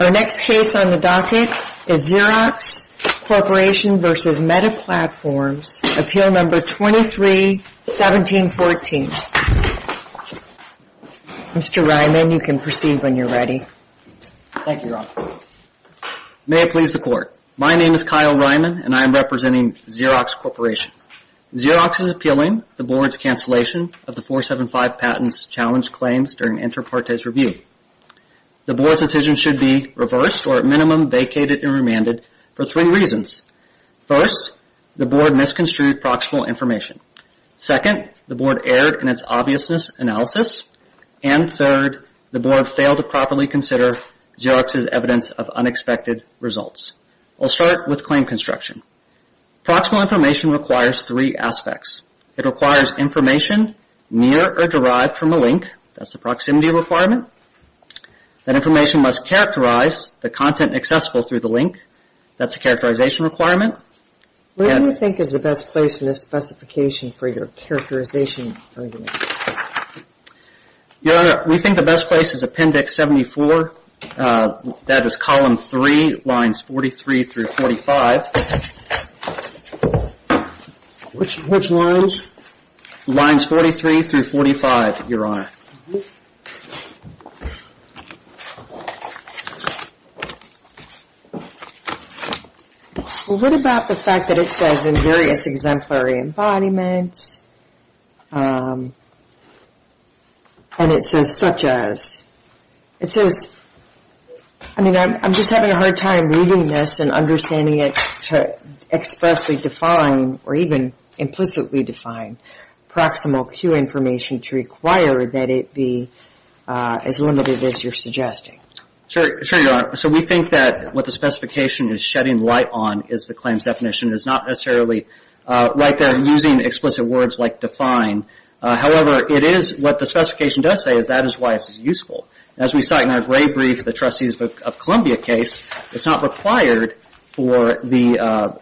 Our next case on the docket is Xerox Corporation v. Meta Platforms, Appeal No. 23-1714. Mr. Ryman, you can proceed when you are ready. May it please the Court. My name is Kyle Ryman and I am representing Xerox Corporation. Xerox is appealing the Board's cancellation of the 475 Patents Challenge claims during Inter Partes Review. The Board's decision should be reversed or at minimum vacated and remanded for three reasons. First, the Board misconstrued proximal information. Second, the Board erred in its obviousness analysis. And third, the Board failed to properly consider Xerox's evidence of unexpected results. I'll start with claim construction. Proximal information requires three aspects. It requires information near or derived from a link. That's a proximity requirement. That information must characterize the content accessible through the link. That's a characterization requirement. What do you think is the best place in this specification for your characterization argument? Your Honor, we think the best place is Appendix 74, that is Column 3, Lines 43-45. Which lines? Lines 43-45, Your Honor. What about the fact that it says in various exemplary embodiments and it says such as? I mean, I'm just having a hard time reading this and understanding it to expressly define or even implicitly define proximal Q information to require that it be as limited as you're suggesting. Sure, Your Honor. So we think that what the specification is shedding light on is the claims definition. It's not necessarily right there using explicit words like define. However, it is what the specification does say is that is why it's useful. As we cite in our gray brief, the Trustees of Columbia case, it's not required for the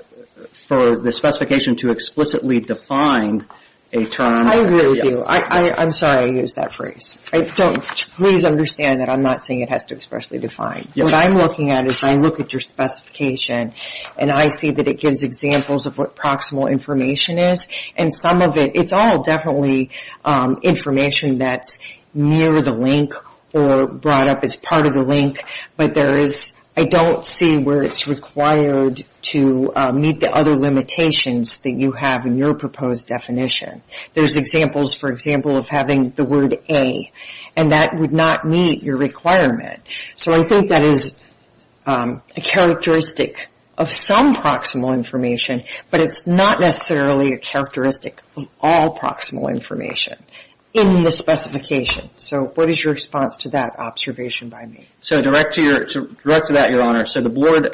specification to explicitly define a term. I agree with you. I'm sorry I used that phrase. Please understand that I'm not saying it has to expressly define. What I'm looking at is I look at your specification and I see that it gives examples of what proximal information is. It's all definitely information that's near the link or brought up as part of the link, but I don't see where it's required to meet the other limitations that you have in your proposed definition. There's examples, for example, of having the word A, and that would not meet your requirement. So I think that is a characteristic of some proximal information, but it's not necessarily a characteristic of all proximal information in the specification. So what is your response to that observation by me? So direct to that, Your Honor. So the board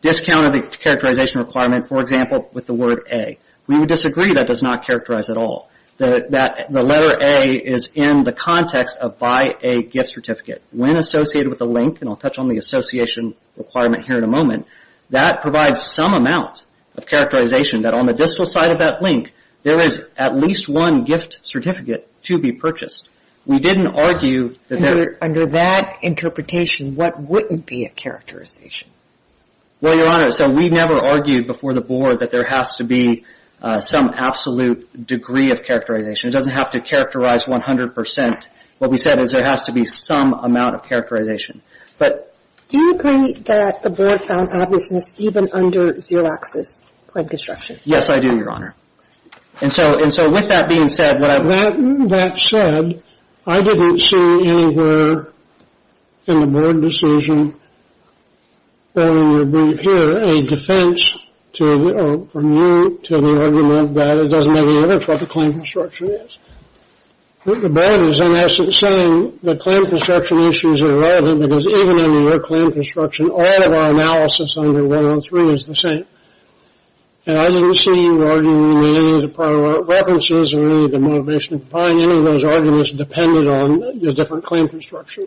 discounted the characterization requirement, for example, with the word A. We would disagree. That does not characterize at all. The letter A is in the context of by a gift certificate. When associated with a link, and I'll touch on the association requirement here in a moment, that provides some amount of characterization that on the distal side of that link, there is at least one gift certificate to be purchased. We didn't argue that there... Under that interpretation, what wouldn't be a characterization? Well, Your Honor, so we never argued before the board that there has to be some absolute degree of characterization. It doesn't have to characterize 100%. What we said is there has to be some amount of characterization. But... Do you agree that the board found obviousness even under Xerox's claim construction? Yes, I do, Your Honor. And so with that being said, what I... That said, I didn't see anywhere in the board decision that we would bring here a defense from you to the argument that it doesn't make any difference what the claim construction is. The board is, in essence, saying the claim construction issues are relevant because even under your claim construction, all of our analysis under 103 is the same. And I didn't see you arguing any of the prior references or any of the motivation to find any of those arguments dependent on your different claim construction.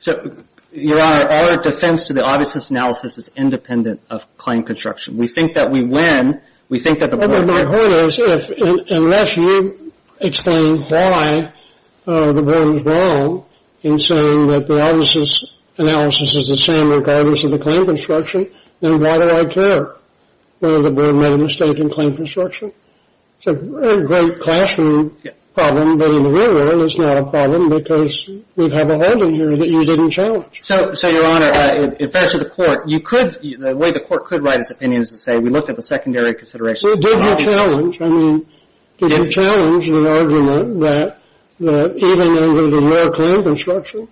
So, Your Honor, our defense to the obviousness analysis is independent of claim construction. We think that we win. We think that the board... Unless you explain why the board was wrong in saying that the analysis is the same regardless of the claim construction, then why do I care whether the board made a mistake in claim construction? It's a great classroom problem, but in the real world, it's not a problem because we've had a hold on you that you didn't challenge. So, Your Honor, in fairness to the court, the way the court could write its opinion is to say we looked at the secondary considerations. Well, did you challenge? I mean, did you challenge the argument that even under the lower claim construction...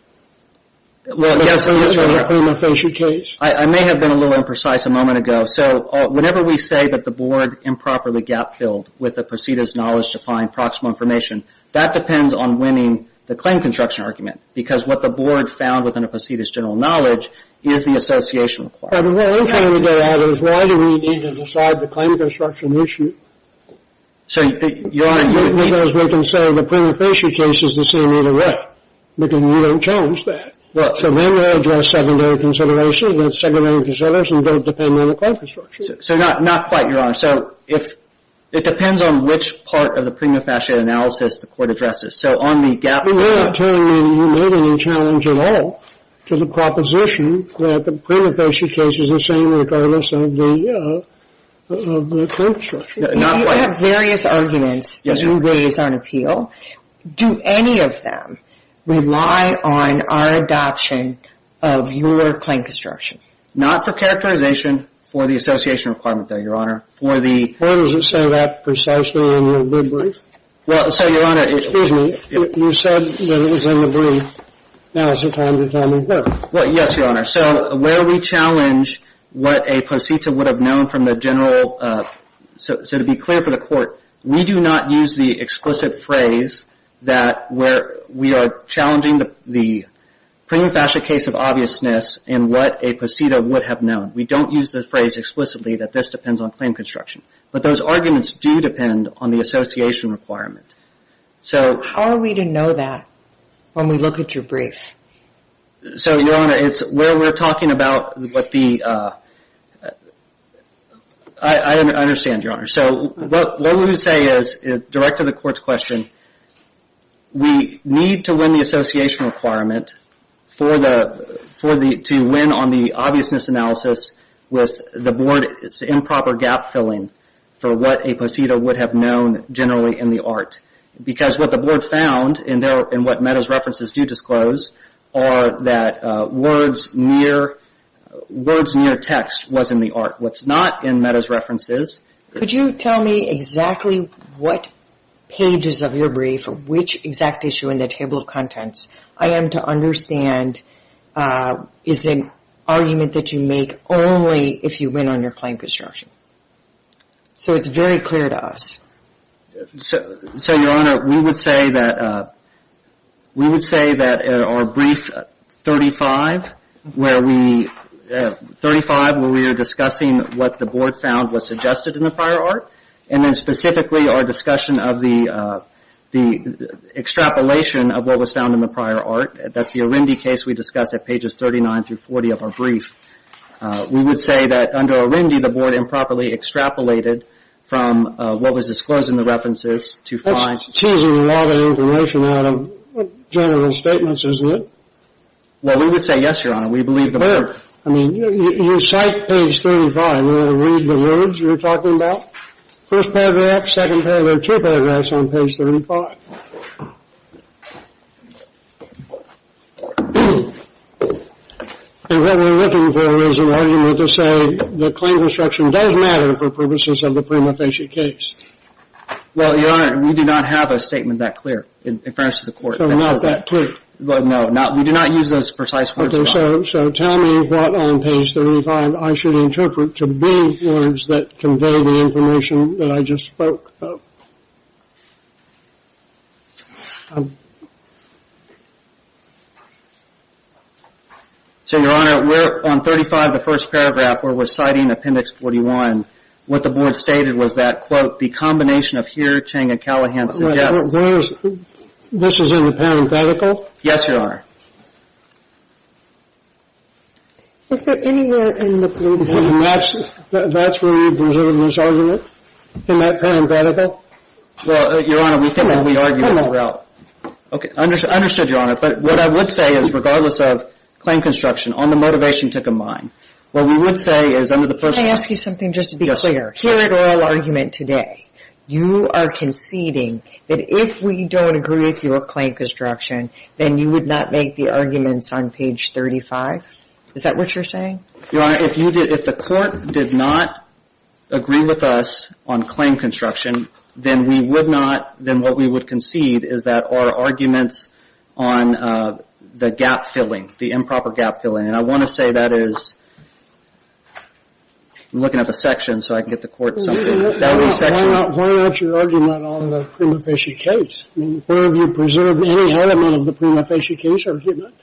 Well, yes, Your Honor. ...there was a prima facie case? I may have been a little imprecise a moment ago. So, whenever we say that the board improperly gap-filled with the proceeders' knowledge to find proximal information, that depends on winning the claim construction argument because what the board found within the proceeders' general knowledge is the association requirement. But what I'm trying to get at is why do we need to decide the claim construction issue? So, Your Honor... Because we can say the prima facie case is the same either way, because we don't challenge that. So, then we'll address secondary considerations, but secondary considerations don't depend on the claim construction. So, not quite, Your Honor. So, it depends on which part of the prima facie analysis the court addresses. So, on the gap... You're not telling me you made any challenge at all to the proposition that the prima facie case is the same regardless of the claim construction. You have various arguments that you raise on appeal. Do any of them rely on our adoption of your claim construction? Not for characterization, for the association requirement, though, Your Honor. For the... Where does it say that precisely in your brief? Well, so, Your Honor... Excuse me. You said that it was in the brief. Now is the time to tell me what. Well, yes, Your Honor. So, where we challenge what a pro cita would have known from the general... So, to be clear for the court, we do not use the explicit phrase that we are challenging the prima facie case of obviousness and what a pro cita would have known. We don't use the phrase explicitly that this depends on claim construction. But those arguments do depend on the association requirement. So... How are we to know that when we look at your brief? So, Your Honor, it's where we're talking about what the... I understand, Your Honor. So, what we say is, direct to the court's question, we need to win the association requirement to win on the obviousness analysis with the board's improper gap filling for what a pro cita would have known generally in the art. Because what the board found and what Meadows references do disclose are that words near text was in the art. What's not in Meadows references... Could you tell me exactly what pages of your brief, which exact issue in the table of contents I am to understand is an argument that you make only if you win on your claim construction? So it's very clear to us. So, Your Honor, we would say that our brief 35, where we are discussing what the board found was suggested in the prior art, and then specifically our discussion of the extrapolation of what was found in the prior art. That's the Arundi case we discussed at pages 39 through 40 of our brief. We would say that under Arundi, the board improperly extrapolated from what was disclosed in the references to find... That's teasing a lot of information out of general statements, isn't it? Well, we would say yes, Your Honor. We believe the board... But, I mean, you cite page 35. All right, I'm going to read the words you're talking about. First paragraph, second paragraph, two paragraphs on page 35. And what we're looking for is an argument to say that claim construction does matter for purposes of the prima facie case. Well, Your Honor, we do not have a statement that clear in reference to the court. So not that clear? No, we do not use those precise words, Your Honor. Okay, so tell me what on page 35 I should interpret to be words that convey the information that I just spoke of. So, Your Honor, we're on 35, the first paragraph, where we're citing Appendix 41. What the board stated was that, quote, the combination of here, Ching, and Callahan suggests... This is in the parenthetical? Yes, Your Honor. Is there anywhere in the parenthetical? That's where we reserve this argument? In that parenthetical? Well, Your Honor, we think that we argue it throughout. Okay, understood, Your Honor. But what I would say is, regardless of claim construction, on the motivation to combine, what we would say is under the... Can I ask you something just to be clear? Here at oral argument today, you are conceding that if we don't agree with your claim construction, then you would not make the arguments on page 35? Is that what you're saying? Your Honor, if the court did not agree with us on claim construction, then what we would concede is that our arguments on the gap filling, the improper gap filling, and I want to say that is... I'm looking up a section so I can get the court something. Why not your argument on the prima facie case? Where have you preserved any element of the prima facie case argument?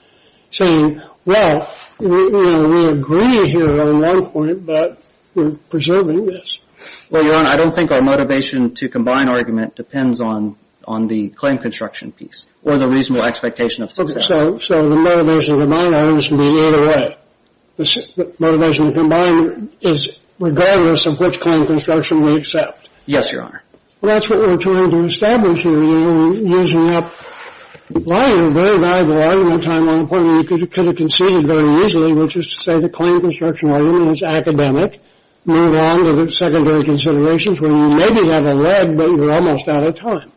Saying, well, we agree here on one point, but we're preserving this. Well, Your Honor, I don't think our motivation to combine argument depends on the claim construction piece or the reasonable expectation of success. So the motivation to combine argument can be either way. The motivation to combine is regardless of which claim construction we accept. Yes, Your Honor. Well, that's what we're trying to establish here. You're using up very valuable argument time on a point where you could have conceded very easily, which is to say the claim construction argument is academic. Move on to the secondary considerations where you may be at a lead, but you're almost out of time.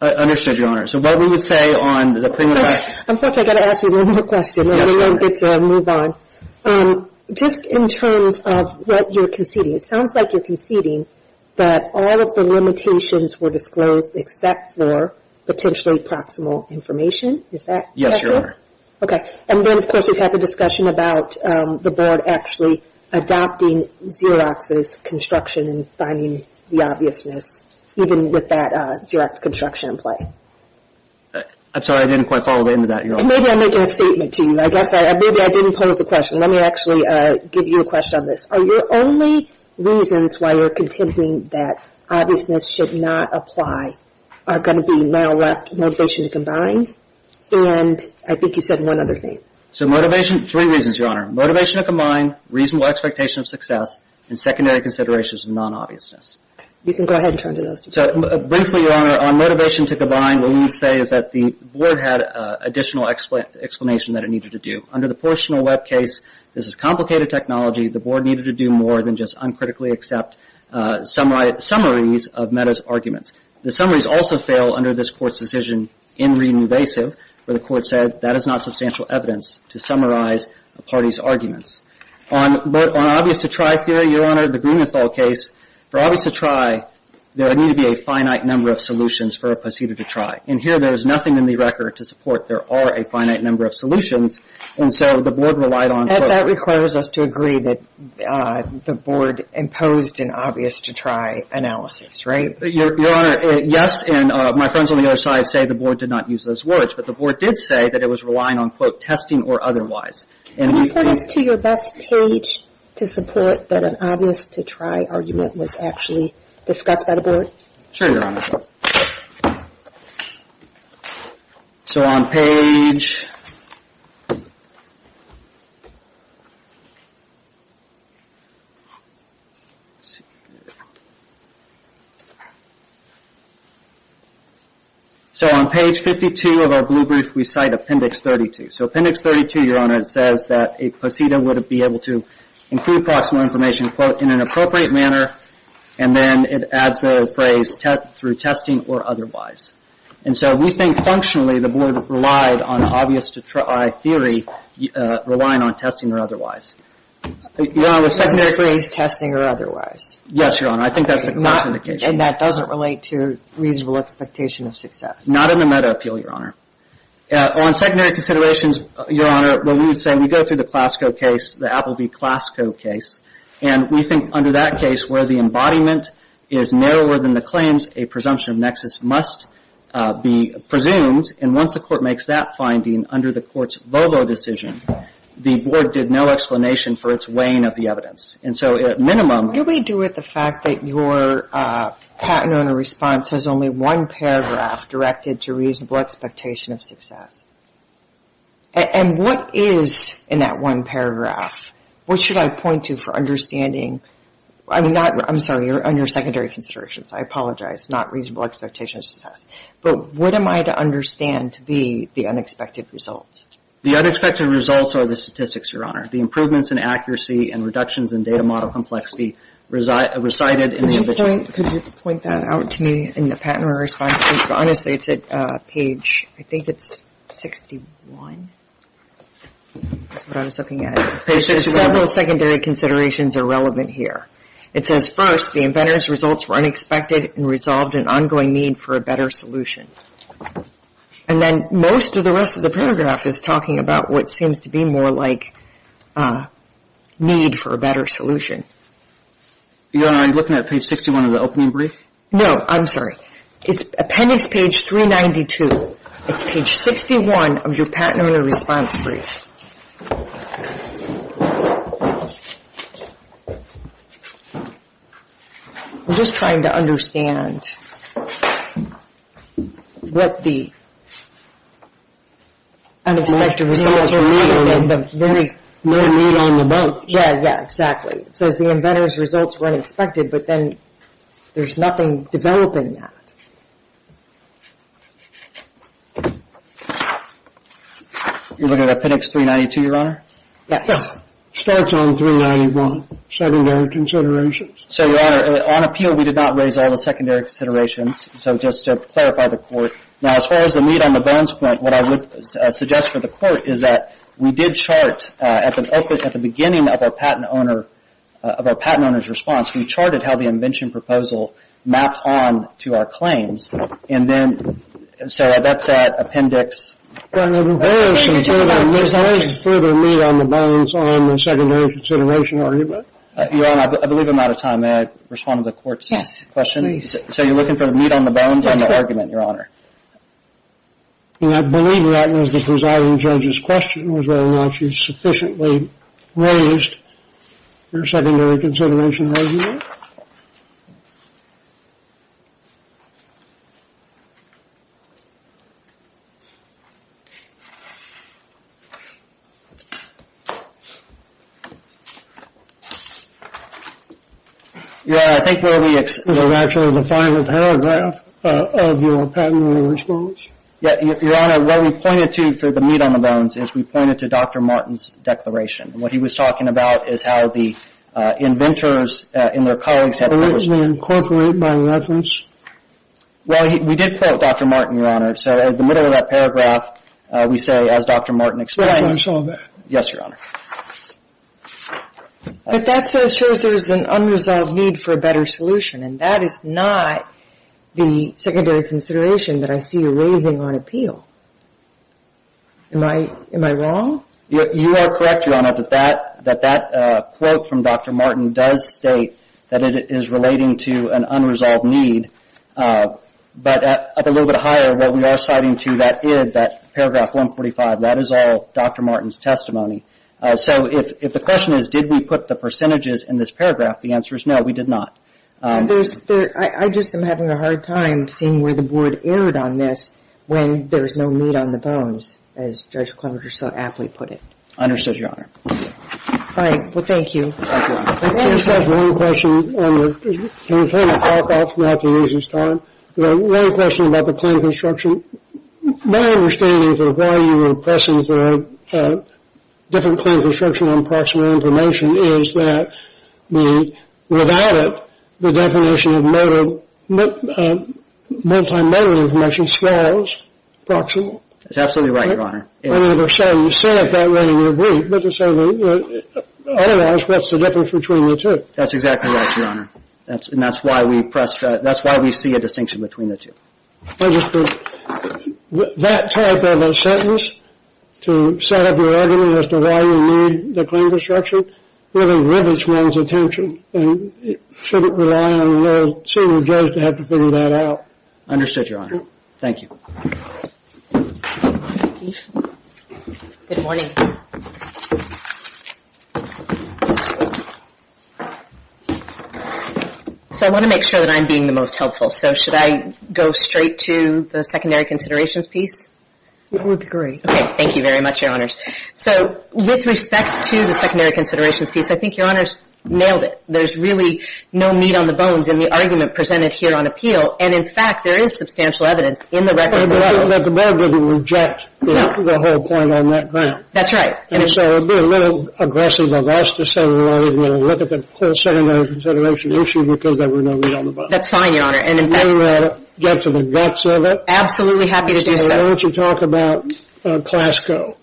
Understood, Your Honor. So what we would say on the prima facie... I'm sorry. I've got to ask you one more question. Yes, Your Honor. I don't get to move on. Just in terms of what you're conceding, it sounds like you're conceding that all of the limitations were disclosed except for potentially proximal information. Is that correct? Yes, Your Honor. Okay. And then, of course, we've had the discussion about the board actually adopting Xerox's construction and finding the obviousness, even with that Xerox construction in play. I'm sorry. I didn't quite follow the end of that, Your Honor. Maybe I'm making a statement to you. Maybe I didn't pose a question. Let me actually give you a question on this. Are your only reasons why you're contending that obviousness should not apply are going to be motivation to combine? And I think you said one other thing. Three reasons, Your Honor. Motivation to combine, reasonable expectation of success, and secondary considerations of non-obviousness. You can go ahead and turn to those. So, briefly, Your Honor, on motivation to combine, what we would say is that the board had additional explanation that it needed to do. Under the Portional Web case, this is complicated technology. The board needed to do more than just uncritically accept summaries of Meadows' arguments. The summaries also fail under this Court's decision in re-invasive, where the Court said that is not substantial evidence to summarize a party's arguments. On obvious to try theory, Your Honor, the Greenenthal case, for obvious to try, there would need to be a finite number of solutions for a procedure to try. And here, there is nothing in the record to support there are a finite number of solutions, and so the board relied on. That requires us to agree that the board imposed an obvious to try analysis, right? Your Honor, yes, and my friends on the other side say the board did not use those words. But the board did say that it was relying on, quote, testing or otherwise. Can you put us to your best page to support that an obvious to try argument was actually discussed by the board? Sure, Your Honor. So on page 52 of our blue brief, we cite Appendix 32. So Appendix 32, Your Honor, it says that a procedure would be able to include proximal information, quote, in an appropriate manner, and then it adds the phrase through testing or otherwise. And so we think functionally the board relied on obvious to try theory relying on testing or otherwise. Your Honor, the secondary phrase testing or otherwise. Yes, Your Honor. I think that's a good indication. And that doesn't relate to reasonable expectation of success. Not in the Meta Appeal, Your Honor. On secondary considerations, Your Honor, well, we would say we go through the Clasco case, the Apple v. Clasco case, and we think under that case where the embodiment is narrower than the claims, a presumption of nexus must be presumed. And once the court makes that finding under the court's Volvo decision, the board did no explanation for its weighing of the evidence. And so at minimum. What do we do with the fact that your patent owner response has only one paragraph directed to reasonable expectation of success? And what is in that one paragraph? What should I point to for understanding? I'm sorry, on your secondary considerations. I apologize. Not reasonable expectation of success. But what am I to understand to be the unexpected result? The unexpected results are the statistics, Your Honor. The improvements in accuracy and reductions in data model complexity recited in the. Mr. Joint, could you point that out to me in the patent owner response? Honestly, it's at page, I think it's 61. That's what I was looking at. Page 61. Several secondary considerations are relevant here. It says, first, the inventor's results were unexpected and resolved an ongoing need for a better solution. And then most of the rest of the paragraph is talking about what seems to be more like need for a better solution. Your Honor, are you looking at page 61 of the opening brief? No. I'm sorry. It's appendix page 392. It's page 61 of your patent owner response brief. I'm just trying to understand what the unexpected results are. No need on the bones. Yeah, yeah, exactly. It says the inventor's results were unexpected, but then there's nothing developing that. You're looking at appendix 392, Your Honor? Yes. Starts on 391, secondary considerations. So, Your Honor, on appeal we did not raise all the secondary considerations, so just to clarify the court. Now, as far as the need on the bones point, what I would suggest for the court is that we did chart at the opening, at the beginning of our patent owner's response, we charted how the invention proposal mapped on to our claims. And then, so that's that appendix. There's no need for the need on the bones on the secondary consideration argument. Your Honor, I believe I'm out of time. May I respond to the court's question? Yes, please. So, you're looking for the need on the bones on the argument, Your Honor? And I believe that was the presiding judge's question, was whether or not she sufficiently raised her secondary consideration argument. Thank you. Your Honor, I think where we... Is it actually the final paragraph of your patent owner's response? Yes, Your Honor, what we pointed to for the need on the bones is we pointed to Dr. Martin's declaration. And what he was talking about is how the inventors and their colleagues had... Originally incorporated by reference? Well, we did quote Dr. Martin, Your Honor. So, at the middle of that paragraph, we say, as Dr. Martin explained... Can I show that? Yes, Your Honor. But that shows there's an unresolved need for a better solution. And that is not the secondary consideration that I see you raising on appeal. Am I wrong? You are correct, Your Honor, that that quote from Dr. Martin does state that it is relating to an unresolved need. But at a little bit higher, what we are citing to that id, that paragraph 145, that is all Dr. Martin's testimony. So, if the question is did we put the percentages in this paragraph, the answer is no, we did not. I just am having a hard time seeing where the board erred on this when there's no need on the bones, as Judge Clemenger so aptly put it. Understood, Your Honor. All right, well, thank you. Can I just ask one question? Can we kind of talk all throughout the meeting's time? One question about the plan of construction. My understanding for why you were pressing for a different plan of construction on proximal information is that without it, the definition of multi-motor information swells proximal. That's absolutely right, Your Honor. I mean, you said it that way in your brief, but otherwise, what's the difference between the two? That's exactly right, Your Honor, and that's why we see a distinction between the two. That type of a sentence to set up your argument as to why you need the plan of construction really rivets one's attention and shouldn't rely on a little senior judge to have to figure that out. Understood, Your Honor. Thank you. Good morning. So I want to make sure that I'm being the most helpful, so should I go straight to the secondary considerations piece? That would be great. Okay, thank you very much, Your Honors. So with respect to the secondary considerations piece, I think Your Honors nailed it. There's really no meat on the bones in the argument presented here on appeal, and in fact, there is substantial evidence in the record. But the board didn't reject the whole point on that ground. That's right. And so it would be a little aggressive of us to say we're not even going to look at the secondary consideration issue because there were no meat on the bones. That's fine, Your Honor. And in fact, we're going to get to the guts of it. Absolutely happy to do so. Why don't you talk about CLASCO?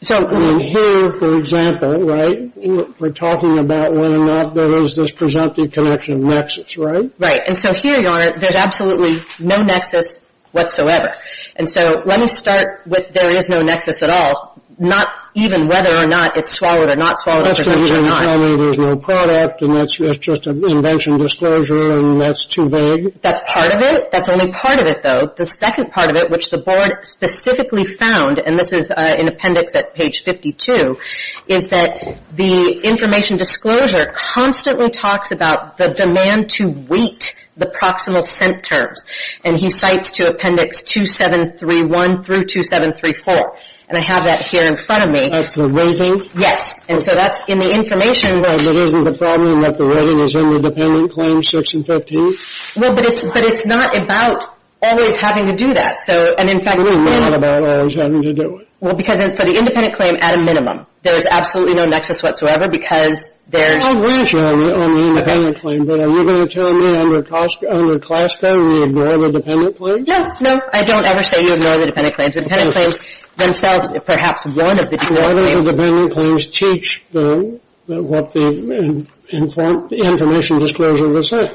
So here, for example, right, we're talking about whether or not there is this presumptive connection of nexus, right? Right, and so here, Your Honor, there's absolutely no nexus whatsoever. And so let me start with there is no nexus at all, not even whether or not it's swallowed or not swallowed. That's because you're telling me there's no product and it's just an invention disclosure and that's too vague. That's part of it. That's only part of it, though. The second part of it, which the board specifically found, and this is in appendix at page 52, is that the information disclosure constantly talks about the demand to weight the proximal scent terms. And he cites to appendix 2731 through 2734. And I have that here in front of me. That's the rating? Yes. And so that's in the information. Well, but isn't the problem that the rating is in the dependent claim 6 and 15? Well, but it's not about always having to do that. And in fact, we know. We know not about always having to do it. Well, because for the independent claim, at a minimum, there's absolutely no nexus whatsoever because there's... I'll reassure you on the independent claim. But are you going to tell me under CLASCO we ignore the dependent claims? No, no. I don't ever say you ignore the dependent claims. The dependent claims themselves, perhaps one of the dependent claims... Why don't the dependent claims teach what the information disclosure will say?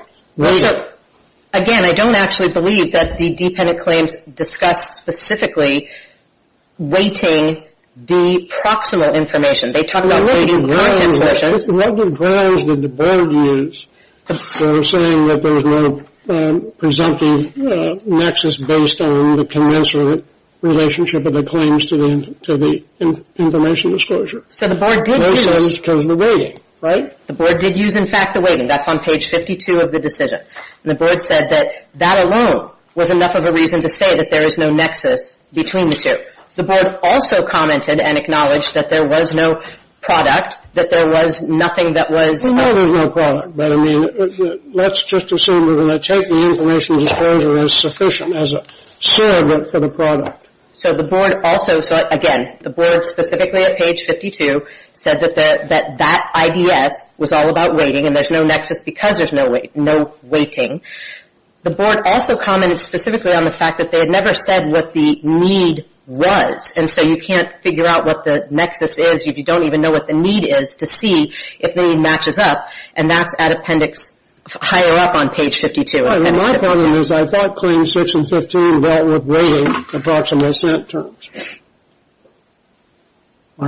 Again, I don't actually believe that the dependent claims discuss specifically weighting the proximal information. They talk about weighting the content information. What was the grounds that the board used for saying that there's no presumptive nexus based on the commensurate relationship of the claims to the information disclosure? So the board did use... No sense because of the weighting, right? The board did use, in fact, the weighting. That's on page 52 of the decision. And the board said that that alone was enough of a reason to say that there is no nexus between the two. The board also commented and acknowledged that there was no product, that there was nothing that was... Well, no, there's no product. But, I mean, let's just assume we're going to take the information disclosure as sufficient as a surrogate for the product. So the board also... No weighting. The board also commented specifically on the fact that they had never said what the need was. And so you can't figure out what the nexus is if you don't even know what the need is to see if the need matches up. And that's at appendix higher up on page 52. My point is I thought Claims 6 and 15 dealt with weighting the proximal centers.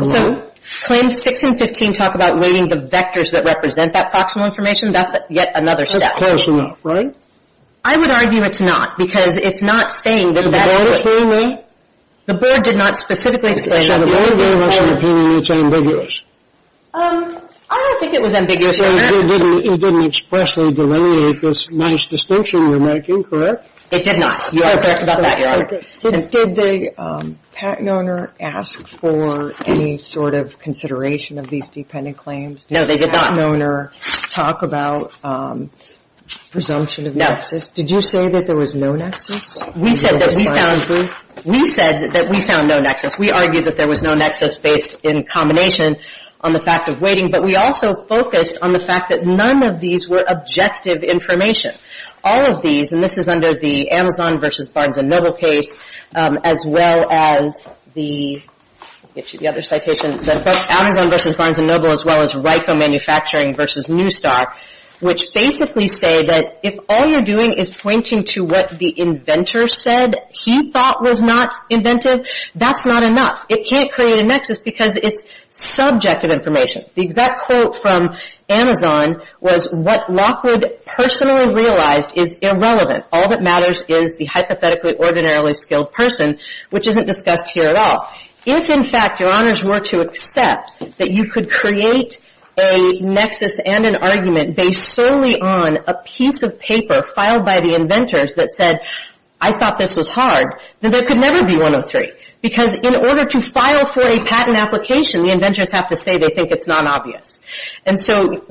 So Claims 6 and 15 talk about weighting the vectors that represent that proximal information. That's yet another step. That's close enough, right? I would argue it's not because it's not saying that... Did the board explain that? The board did not specifically explain that. So the board gave us an opinion that's ambiguous. I don't think it was ambiguous. It didn't expressly delineate this nice distinction you're making, correct? It did not. You are correct about that, Your Honor. Did the patent owner ask for any sort of consideration of these dependent claims? No, they did not. Did the patent owner talk about presumption of nexus? No. Did you say that there was no nexus? We said that we found no nexus. We argued that there was no nexus based in combination on the fact of weighting, but we also focused on the fact that none of these were objective information. All of these, and this is under the Amazon v. Barnes & Noble case, as well as the Amazon v. Barnes & Noble as well as RICO Manufacturing v. Newstock, which basically say that if all you're doing is pointing to what the inventor said he thought was not inventive, that's not enough. It can't create a nexus because it's subjective information. The exact quote from Amazon was what Lockwood personally realized is irrelevant. All that matters is the hypothetically ordinarily skilled person, which isn't discussed here at all. If, in fact, Your Honors were to accept that you could create a nexus and an argument based solely on a piece of paper filed by the inventors that said, I thought this was hard, then there could never be 103. Because in order to file for a patent application, the inventors have to say they think it's non-obvious. And so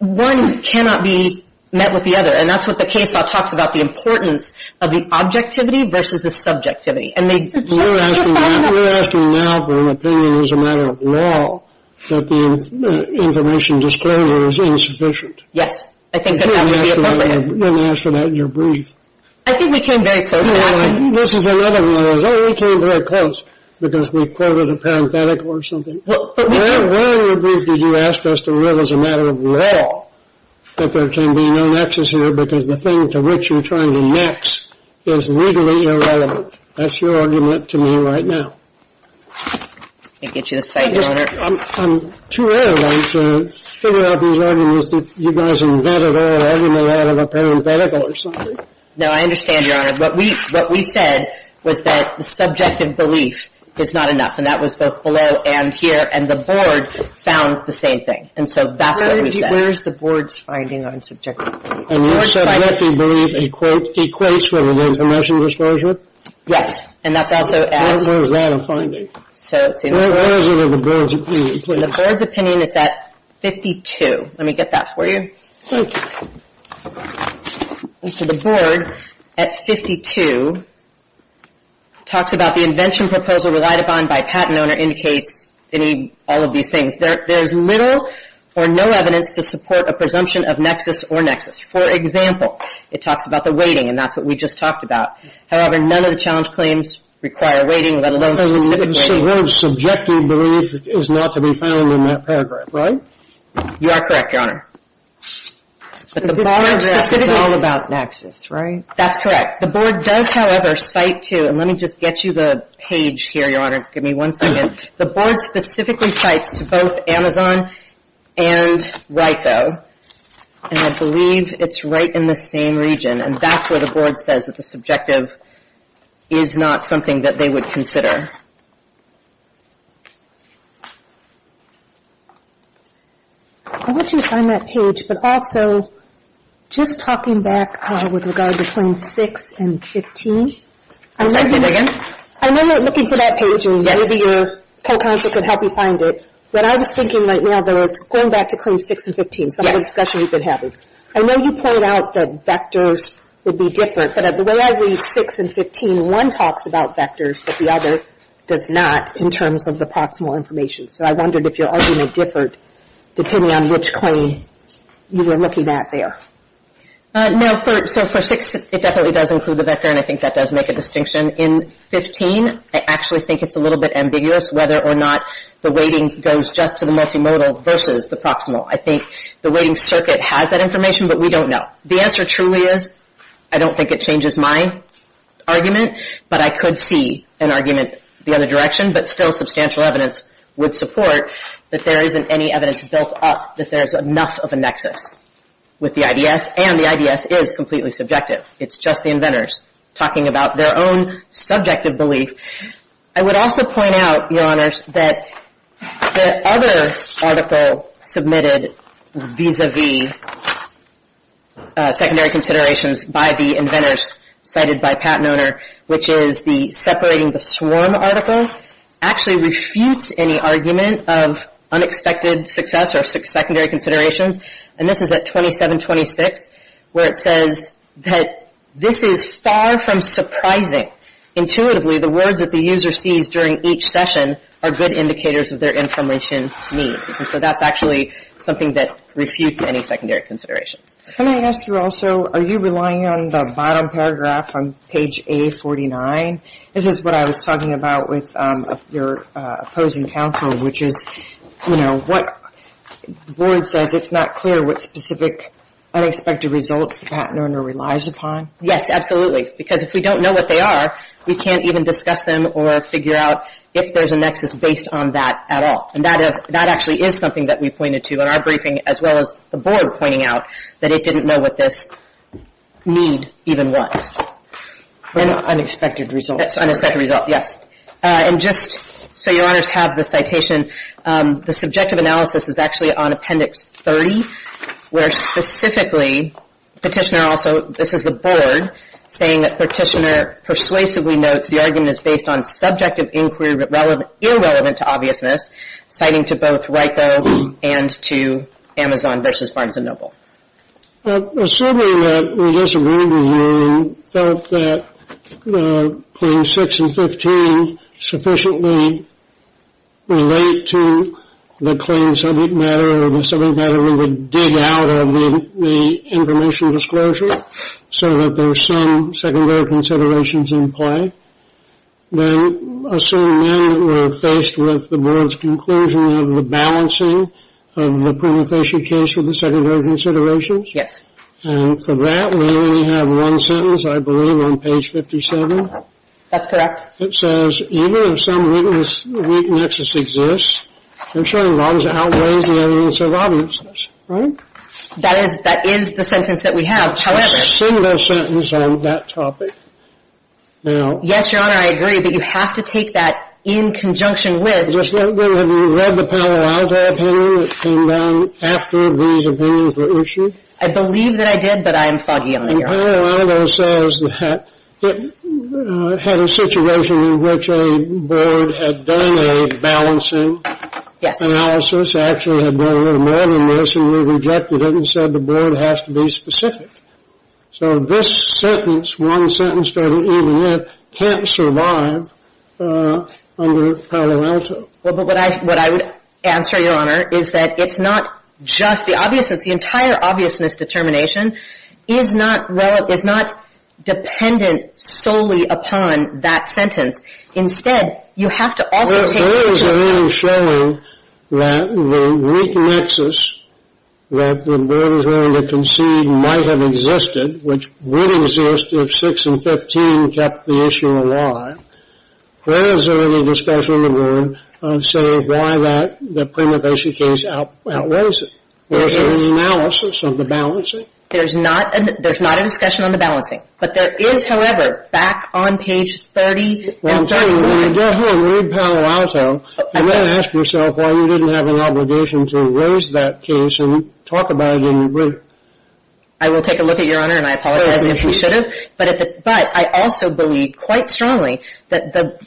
one cannot be met with the other. And that's what the case law talks about, the importance of the objectivity versus the subjectivity. We're asking now for an opinion as a matter of law that the information disclosure is insufficient. Yes, I think that would be appropriate. We didn't ask for that in your brief. I think we came very close to that. This is another one of those, oh, we came very close because we quoted a parenthetical or something. But why in your brief did you ask us to rule as a matter of law that there can be no nexus here because the thing to which you're trying to next is legally irrelevant? That's your argument to me right now. Let me get you a cite, Your Honor. I'm too arrogant to figure out these arguments that you guys invented all argument out of a parenthetical or something. No, I understand, Your Honor. What we said was that the subjective belief is not enough. And that was both below and here. And the board found the same thing. And so that's what we said. Where is the board's finding on subjective belief? And your subjective belief equates with the information disclosure? Yes. And that's also at? Where is that a finding? Where is it in the board's opinion, please? In the board's opinion, it's at 52. Let me get that for you. Thank you. So the board at 52 talks about the invention proposal relied upon by patent owner indicates all of these things. There's little or no evidence to support a presumption of nexus or nexus. For example, it talks about the weighting, and that's what we just talked about. However, none of the challenge claims require weighting, let alone specific weighting. So the board's subjective belief is not to be found in that paragraph, right? You are correct, Your Honor. But this paragraph is all about nexus, right? That's correct. The board does, however, cite to, and let me just get you the page here, Your Honor. Give me one second. The board specifically cites to both Amazon and RICO, and I believe it's right in the same region. And that's where the board says that the subjective is not something that they would consider. I want you to find that page, but also just talking back with regard to Claims 6 and 15. Say that again. I know you're looking for that page, and maybe your co-counsel can help you find it. What I was thinking right now, though, is going back to Claims 6 and 15, some of the discussion we've been having. I know you pointed out that vectors would be different, but the way I read 6 and 15, one talks about vectors, but the other does not in terms of the proximal information. So I wondered if your argument differed depending on which claim you were looking at there. No, so for 6, it definitely does include the vector, and I think that does make a distinction. In 15, I actually think it's a little bit ambiguous whether or not the weighting goes just to the multimodal versus the proximal. I think the weighting circuit has that information, but we don't know. The answer truly is I don't think it changes my argument, but I could see an argument the other direction, but still substantial evidence would support that there isn't any evidence built up that there's enough of a nexus with the IDS, and the IDS is completely subjective. It's just the inventors talking about their own subjective belief. I would also point out, Your Honors, that the other article submitted vis-a-vis secondary considerations by the inventors cited by Pat Noner, which is the Separating the Swarm article, actually refutes any argument of unexpected success or secondary considerations, and this is at 2726, where it says that this is far from surprising. Intuitively, the words that the user sees during each session are good indicators of their information needs, and so that's actually something that refutes any secondary considerations. Can I ask you also, are you relying on the bottom paragraph on page A49? This is what I was talking about with your opposing counsel, which is, you know, what the board says it's not clear what specific unexpected results the Pat Noner relies upon. Yes, absolutely, because if we don't know what they are, we can't even discuss them or figure out if there's a nexus based on that at all, and that actually is something that we pointed to in our briefing, as well as the board pointing out that it didn't know what this need even was. Unexpected results. Unexpected results, yes. And just so your honors have the citation, the subjective analysis is actually on Appendix 30, where specifically Petitioner also, this is the board, saying that Petitioner persuasively notes the argument is based on subjective inquiry irrelevant to obviousness, citing to both RICO and to Amazon versus Barnes & Noble. Assuming that we disagreed with you and felt that Claims 6 and 15 sufficiently relate to the claim subject matter or the subject matter we would dig out of the information disclosure, so that there's some secondary considerations in play, then assume then that we're faced with the board's conclusion of the balancing of the Pruner-Fisher case with the secondary considerations? And for that, we only have one sentence, I believe, on page 57. That's correct. It says, even if some weakness exists, ensuring bonds outweighs the evidence of obviousness, right? That is the sentence that we have, however... There's a similar sentence on that topic. Yes, your honor, I agree, but you have to take that in conjunction with... Have you read the Palo Alto opinion that came down after these opinions were issued? I believe that I did, but I am foggy on the air. Palo Alto says that it had a situation in which a board had done a balancing analysis, and the evidence actually had done a little more than this, and we rejected it and said the board has to be specific. So this sentence, one sentence, starting with even if, can't survive under Palo Alto. What I would answer, your honor, is that it's not just the obviousness. The entire obviousness determination is not dependent solely upon that sentence. Instead, you have to also take into account... Where is there any showing that the weak nexus that the board is willing to concede might have existed, which would exist if 6 and 15 kept the issue alive? Where is there any discussion in the room on, say, why that prima facie case outweighs it? Is there an analysis of the balancing? There's not a discussion on the balancing. But there is, however, back on page 30 and 31... Let me tell you, when you get here and read Palo Alto, you may ask yourself why you didn't have an obligation to raise that case and talk about it in written. I will take a look at your honor, and I apologize if we should have. But I also believe quite strongly that the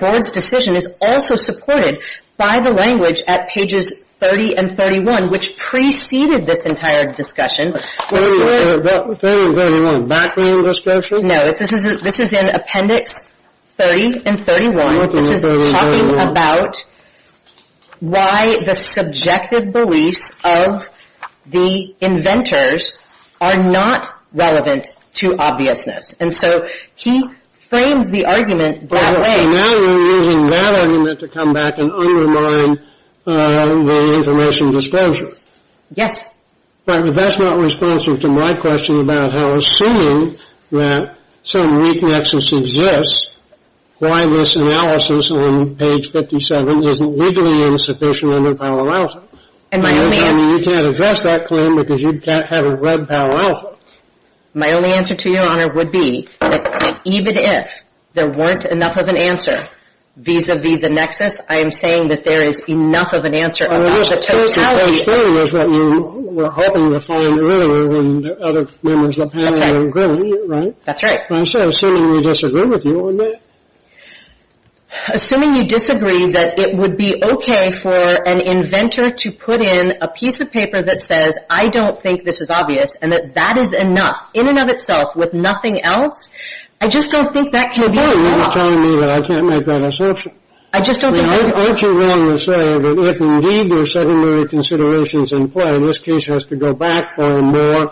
board's decision is also supported by the language at pages 30 and 31, which preceded this entire discussion. 30 and 31, background discussion? No, this is in appendix 30 and 31. This is talking about why the subjective beliefs of the inventors are not relevant to obviousness. And so he frames the argument that way. So now you're using that argument to come back and undermine the information disclosure. Yes. But that's not responsive to my question about how assuming that some weak nexus exists, why this analysis on page 57 isn't legally insufficient under Palo Alto. And my only answer... I mean, you can't address that claim because you can't have it read Palo Alto. My only answer to your honor would be that even if there weren't enough of an answer vis-à-vis the nexus, I am saying that there is enough of an answer about the totality... What I'm saying is that you were hoping to find error in other members of the panel, including you, right? That's right. And so assuming we disagree with you on that... Assuming you disagree that it would be okay for an inventor to put in a piece of paper that says, I don't think this is obvious, and that that is enough in and of itself with nothing else, I just don't think that can be... You're telling me that I can't make that assumption. I just don't think... Aren't you willing to say that if indeed there are secondary considerations in play, this case has to go back for a more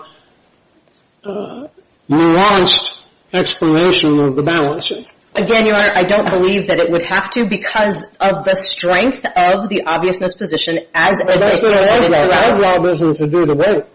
nuanced explanation of the balance? Again, your honor, I don't believe that it would have to because of the strength of the obviousness position as... But that's the odd job. The odd job isn't to do the work.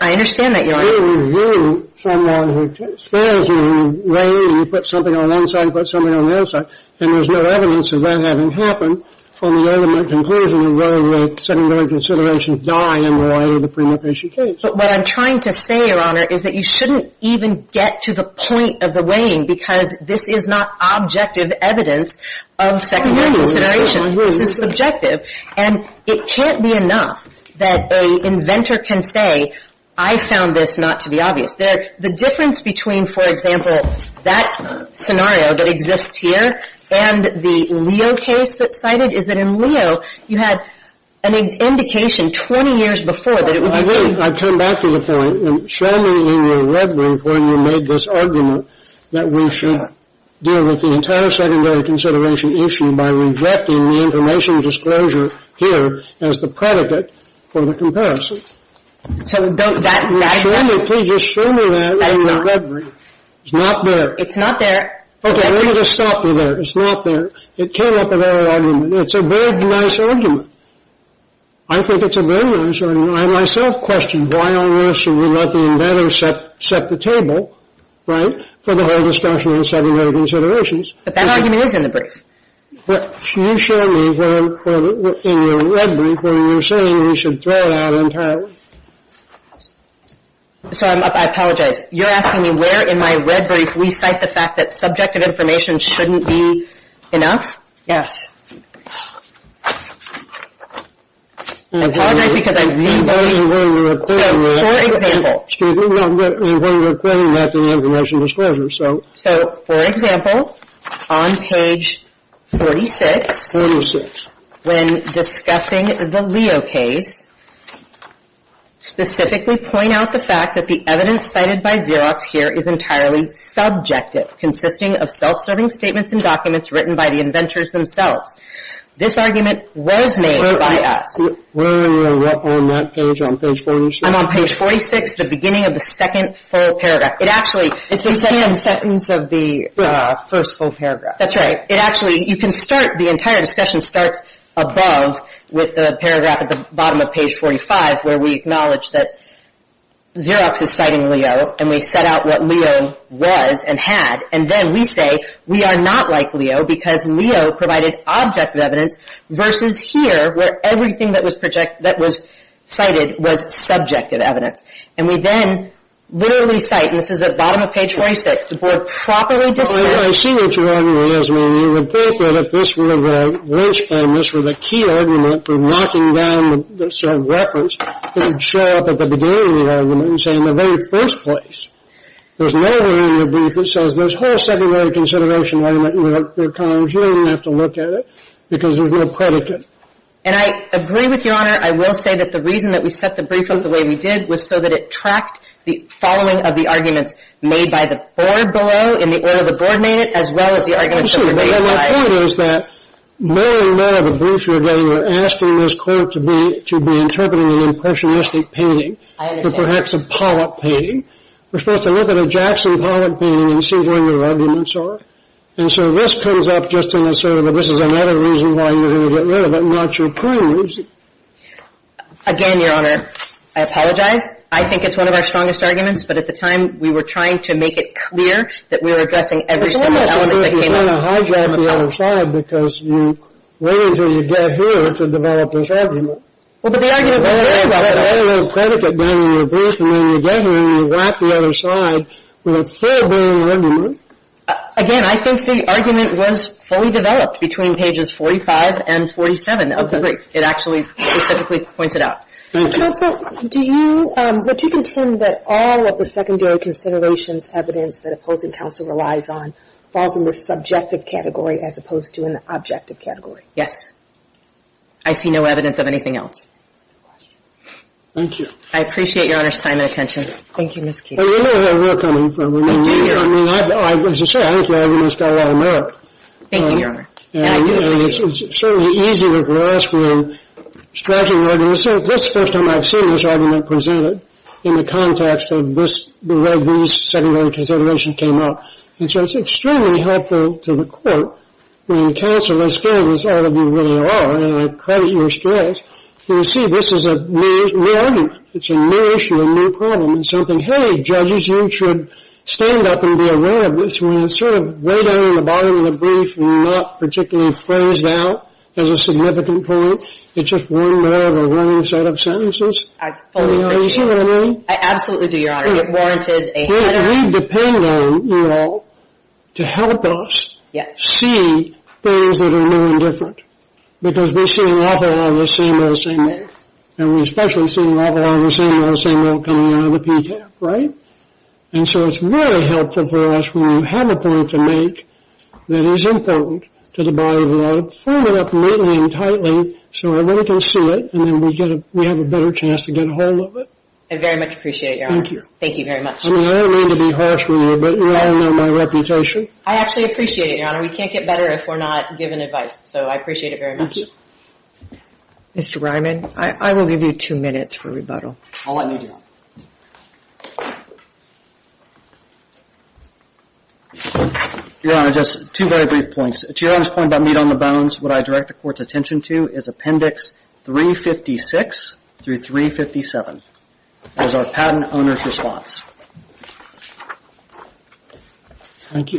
I understand that, your honor. You review someone who spares you, and you lay, and you put something on one side and put something on the other side, and there's no evidence of that having happened on the argument, conclusion, of whether or not secondary considerations die in the way of the prima facie case. But what I'm trying to say, your honor, is that you shouldn't even get to the point of the weighing because this is not objective evidence of secondary considerations. This is subjective. And it can't be enough that an inventor can say, I found this not to be obvious. The difference between, for example, that scenario that exists here and the Leo case that's cited is that in Leo, you had an indication 20 years before that it would be... I come back to the point. Show me in your red brief when you made this argument that we should deal with the entire secondary consideration issue by rejecting the information disclosure here as the predicate for the comparison. Show me, please just show me that in your red brief. It's not there. It's not there. Okay, let me just stop you there. It's not there. It came up in our argument. It's a very nice argument. I think it's a very nice argument. I myself questioned why on earth should we let the inventor set the table, right, for the whole discussion on secondary considerations. But that argument is in the brief. Can you show me in your red brief when you're saying we should throw out entire... Sorry, I apologize. You're asking me where in my red brief we cite the fact that subjective information shouldn't be enough? Yes. I apologize because I read... So, for example... Excuse me. No, but it was important to explain that to the information disclosure, so... So, for example, on page 46, when discussing the Leo case, specifically point out the fact that the evidence cited by Xerox here is entirely subjective, consisting of self-serving statements and documents written by the inventors themselves. This argument was made by us. Where are you on that page, on page 46? I'm on page 46, the beginning of the second full paragraph. It actually... It's the second sentence of the first full paragraph. That's right. It actually, you can start, the entire discussion starts above with the paragraph at the bottom of page 45, where we acknowledge that Xerox is citing Leo, and we set out what Leo was and had, and then we say we are not like Leo because Leo provided objective evidence versus here where everything that was cited was subjective evidence. And we then literally cite, and this is at the bottom of page 46, the board properly discussed... Well, I see what your argument is. I mean, you would think that if this were a lynchpin, this were the key argument for knocking down the self-reference, it would show up at the beginning of the argument and say in the very first place, there's no way in your brief that says there's whole secondary consideration argument and there are columns. You don't even have to look at it because there's no predicate. And I agree with Your Honor. I will say that the reason that we set the brief up the way we did was so that it tracked the following of the arguments made by the board below in the order the board made it as well as the arguments that were made by... Well, the point is that knowing none of the briefs you're getting, we're asking this court to be interpreting an impressionistic painting. I understand. Or perhaps a Pollock painting. We're supposed to look at a Jackson Pollock painting and see where your arguments are. And so this comes up just in the sort of, this is another reason why you're going to get rid of it and not your previous. Again, Your Honor, I apologize. I think it's one of our strongest arguments, but at the time we were trying to make it clear that we were addressing every element that came up. It's almost as if you're trying to hijack the other side because you wait until you get here to develop this argument. Well, but the argument we're making about the... There's no predicate down in your brief, and then you get here and you whack the other side with a fair bit of an argument. Again, I think the argument was fully developed between pages 45 and 47 of the brief. It actually specifically points it out. Counsel, do you, would you contend that all of the secondary considerations evidence that opposing counsel relies on falls in the subjective category as opposed to an objective category? Yes. I see no evidence of anything else. Thank you. I appreciate Your Honor's time and attention. Thank you, Ms. Keith. I mean, you know where we're coming from. I mean, as you say, I think the argument's got a lot of merit. Thank you, Your Honor. And it's certainly easier for us when striking arguments. This is the first time I've seen this argument presented in the context of this, the way these secondary considerations came up. And so it's extremely helpful to the court. I mean, counsel, as good as all of you really are, and I credit your strength, you see this is a new argument. It's a new issue, a new problem. It's something, hey, judges, you should stand up and be aware of this. When it's sort of way down in the bottom of the brief and not particularly phrased out as a significant point, it's just one more of a running set of sentences. You see what I mean? I absolutely do, Your Honor. It warranted a header. We depend on you all to help us see things that are new and different because we're seeing awful lot of the same in the same way. And we're especially seeing awful lot of the same in the same way coming out of the PTAC, right? And so it's really helpful for us when you have a point to make that is important to the body of law, form it up neatly and tightly so everybody can see it and then we have a better chance to get a hold of it. I very much appreciate it, Your Honor. Thank you. Thank you very much. I mean, I don't mean to be harsh with you, but you all know my reputation. I actually appreciate it, Your Honor. We can't get better if we're not given advice. So I appreciate it very much. Thank you. Mr. Ryman, I will leave you two minutes for rebuttal. I'll let you do it. Your Honor, just two very brief points. To Your Honor's point about meat on the bones, what I direct the court's attention to is Appendix 356 through 357. That is our patent owner's response. Thank you.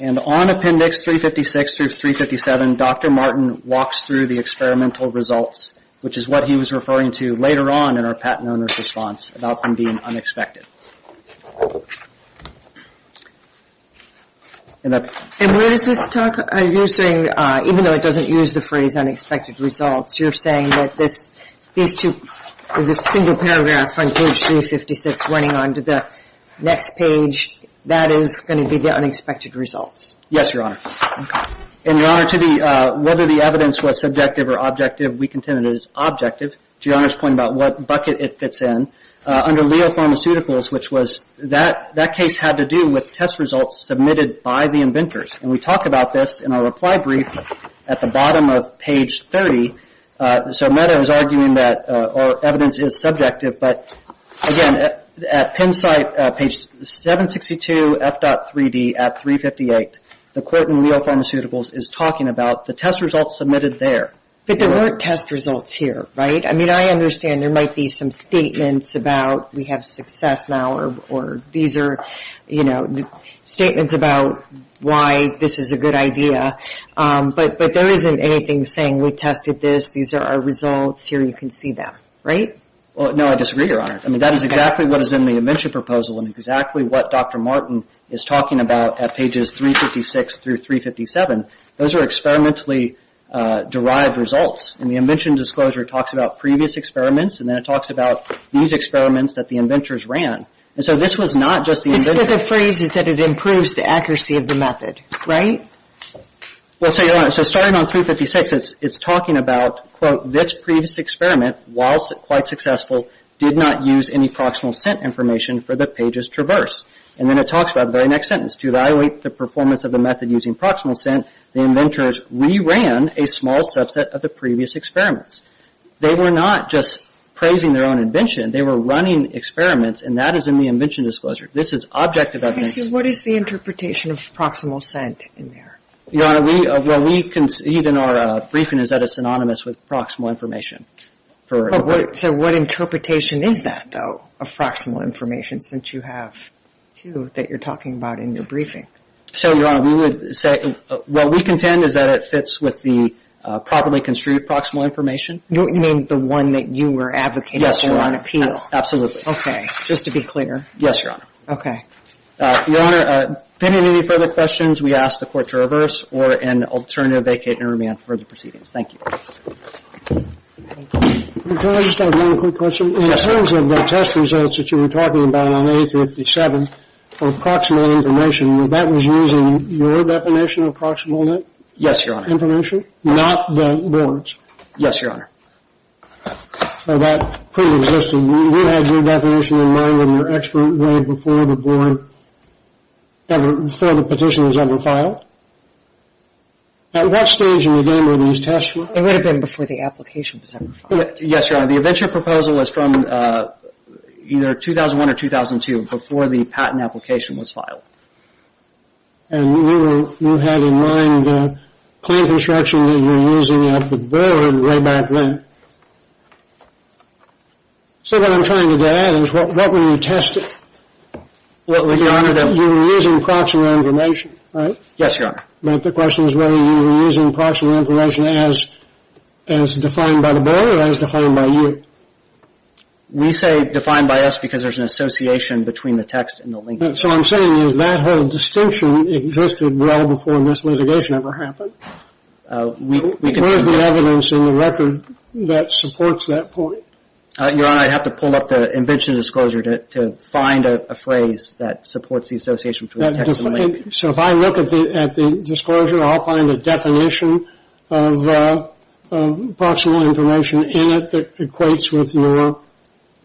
And on Appendix 356 through 357, Dr. Martin walks through the experimental results, which is what he was referring to later on in our patent owner's response about them being unexpected. And where does this talk, you're saying, even though it doesn't use the phrase unexpected results, you're saying that this single paragraph on page 356 running on to the next page, that is going to be the unexpected results? Yes, Your Honor. Okay. And, Your Honor, whether the evidence was subjective or objective, we contended it was objective. To Your Honor's point about what bucket it fits in, under Leo Pharmaceuticals, which was that case had to do with test results submitted by the inventors. And we talk about this in our reply brief at the bottom of page 30. So Medha was arguing that evidence is subjective. But, again, at Penn site, page 762F.3D at 358, the court in Leo Pharmaceuticals is talking about the test results submitted there. But there weren't test results here, right? I mean, I understand there might be some statements about we have success now or these are statements about why this is a good idea. But there isn't anything saying we tested this, these are our results, here you can see them, right? No, I disagree, Your Honor. I mean, that is exactly what is in the invention proposal and exactly what Dr. Martin is talking about at pages 356 through 357. Those are experimentally derived results. And the invention disclosure talks about previous experiments and then it talks about these experiments that the inventors ran. And so this was not just the inventors. But the phrase is that it improves the accuracy of the method, right? Well, so, Your Honor, so starting on 356, it's talking about, quote, this previous experiment, while quite successful, did not use any proximal scent information for the pages traversed. And then it talks about the very next sentence, to evaluate the performance of the method using proximal scent, the inventors re-ran a small subset of the previous experiments. They were not just praising their own invention. They were running experiments, and that is in the invention disclosure. This is objective evidence. What is the interpretation of proximal scent in there? Your Honor, we, well, we, even our briefing is that it's synonymous with proximal information. So what interpretation is that, though, of proximal information, since you have two that you're talking about in your briefing? So, Your Honor, we would say, well, what we contend is that it fits with the properly construed proximal information. You mean the one that you were advocating for on appeal? Yes, Your Honor. Absolutely. Okay. Just to be clear. Yes, Your Honor. Okay. Your Honor, depending on any further questions, we ask the Court to reverse or in alternative vacate and remand for the proceedings. Thank you. Can I just ask one quick question? Yes. In terms of the test results that you were talking about on A357, for proximal information, was that was using your definition of proximal net? Yes, Your Honor. Information? Not the board's. Yes, Your Honor. So that preexisted. You had your definition in mind when your expert read before the board, before the petition was ever filed? At what stage in the game were these tests run? It would have been before the application was ever filed. Yes, Your Honor. The eventual proposal was from either 2001 or 2002, before the patent application was filed. And you had in mind the plan construction that you were using at the board way back then. So what I'm trying to get at is what were you testing? Your Honor, you were using proximal information, right? Yes, Your Honor. But the question is whether you were using proximal information as defined by the board or as defined by you. We say defined by us because there's an association between the text and the link. So what I'm saying is that whole distinction existed well before this litigation ever happened. Where's the evidence in the record that supports that point? Your Honor, I'd have to pull up the invention disclosure to find a phrase that supports the association between the text and the link. So if I look at the disclosure, I'll find a definition of proximal information in it that equates with your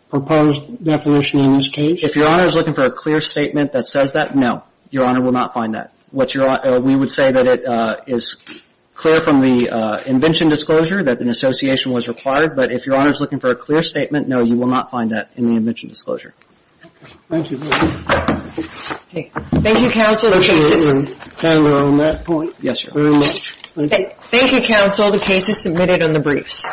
proposed definition in this case? If Your Honor is looking for a clear statement that says that, no. Your Honor will not find that. We would say that it is clear from the invention disclosure that an association was required. But if Your Honor is looking for a clear statement, no, you will not find that in the invention disclosure. Thank you. Okay. Thank you, counsel. On that point. Yes, Your Honor. Thank you, counsel. The case is submitted on the briefs.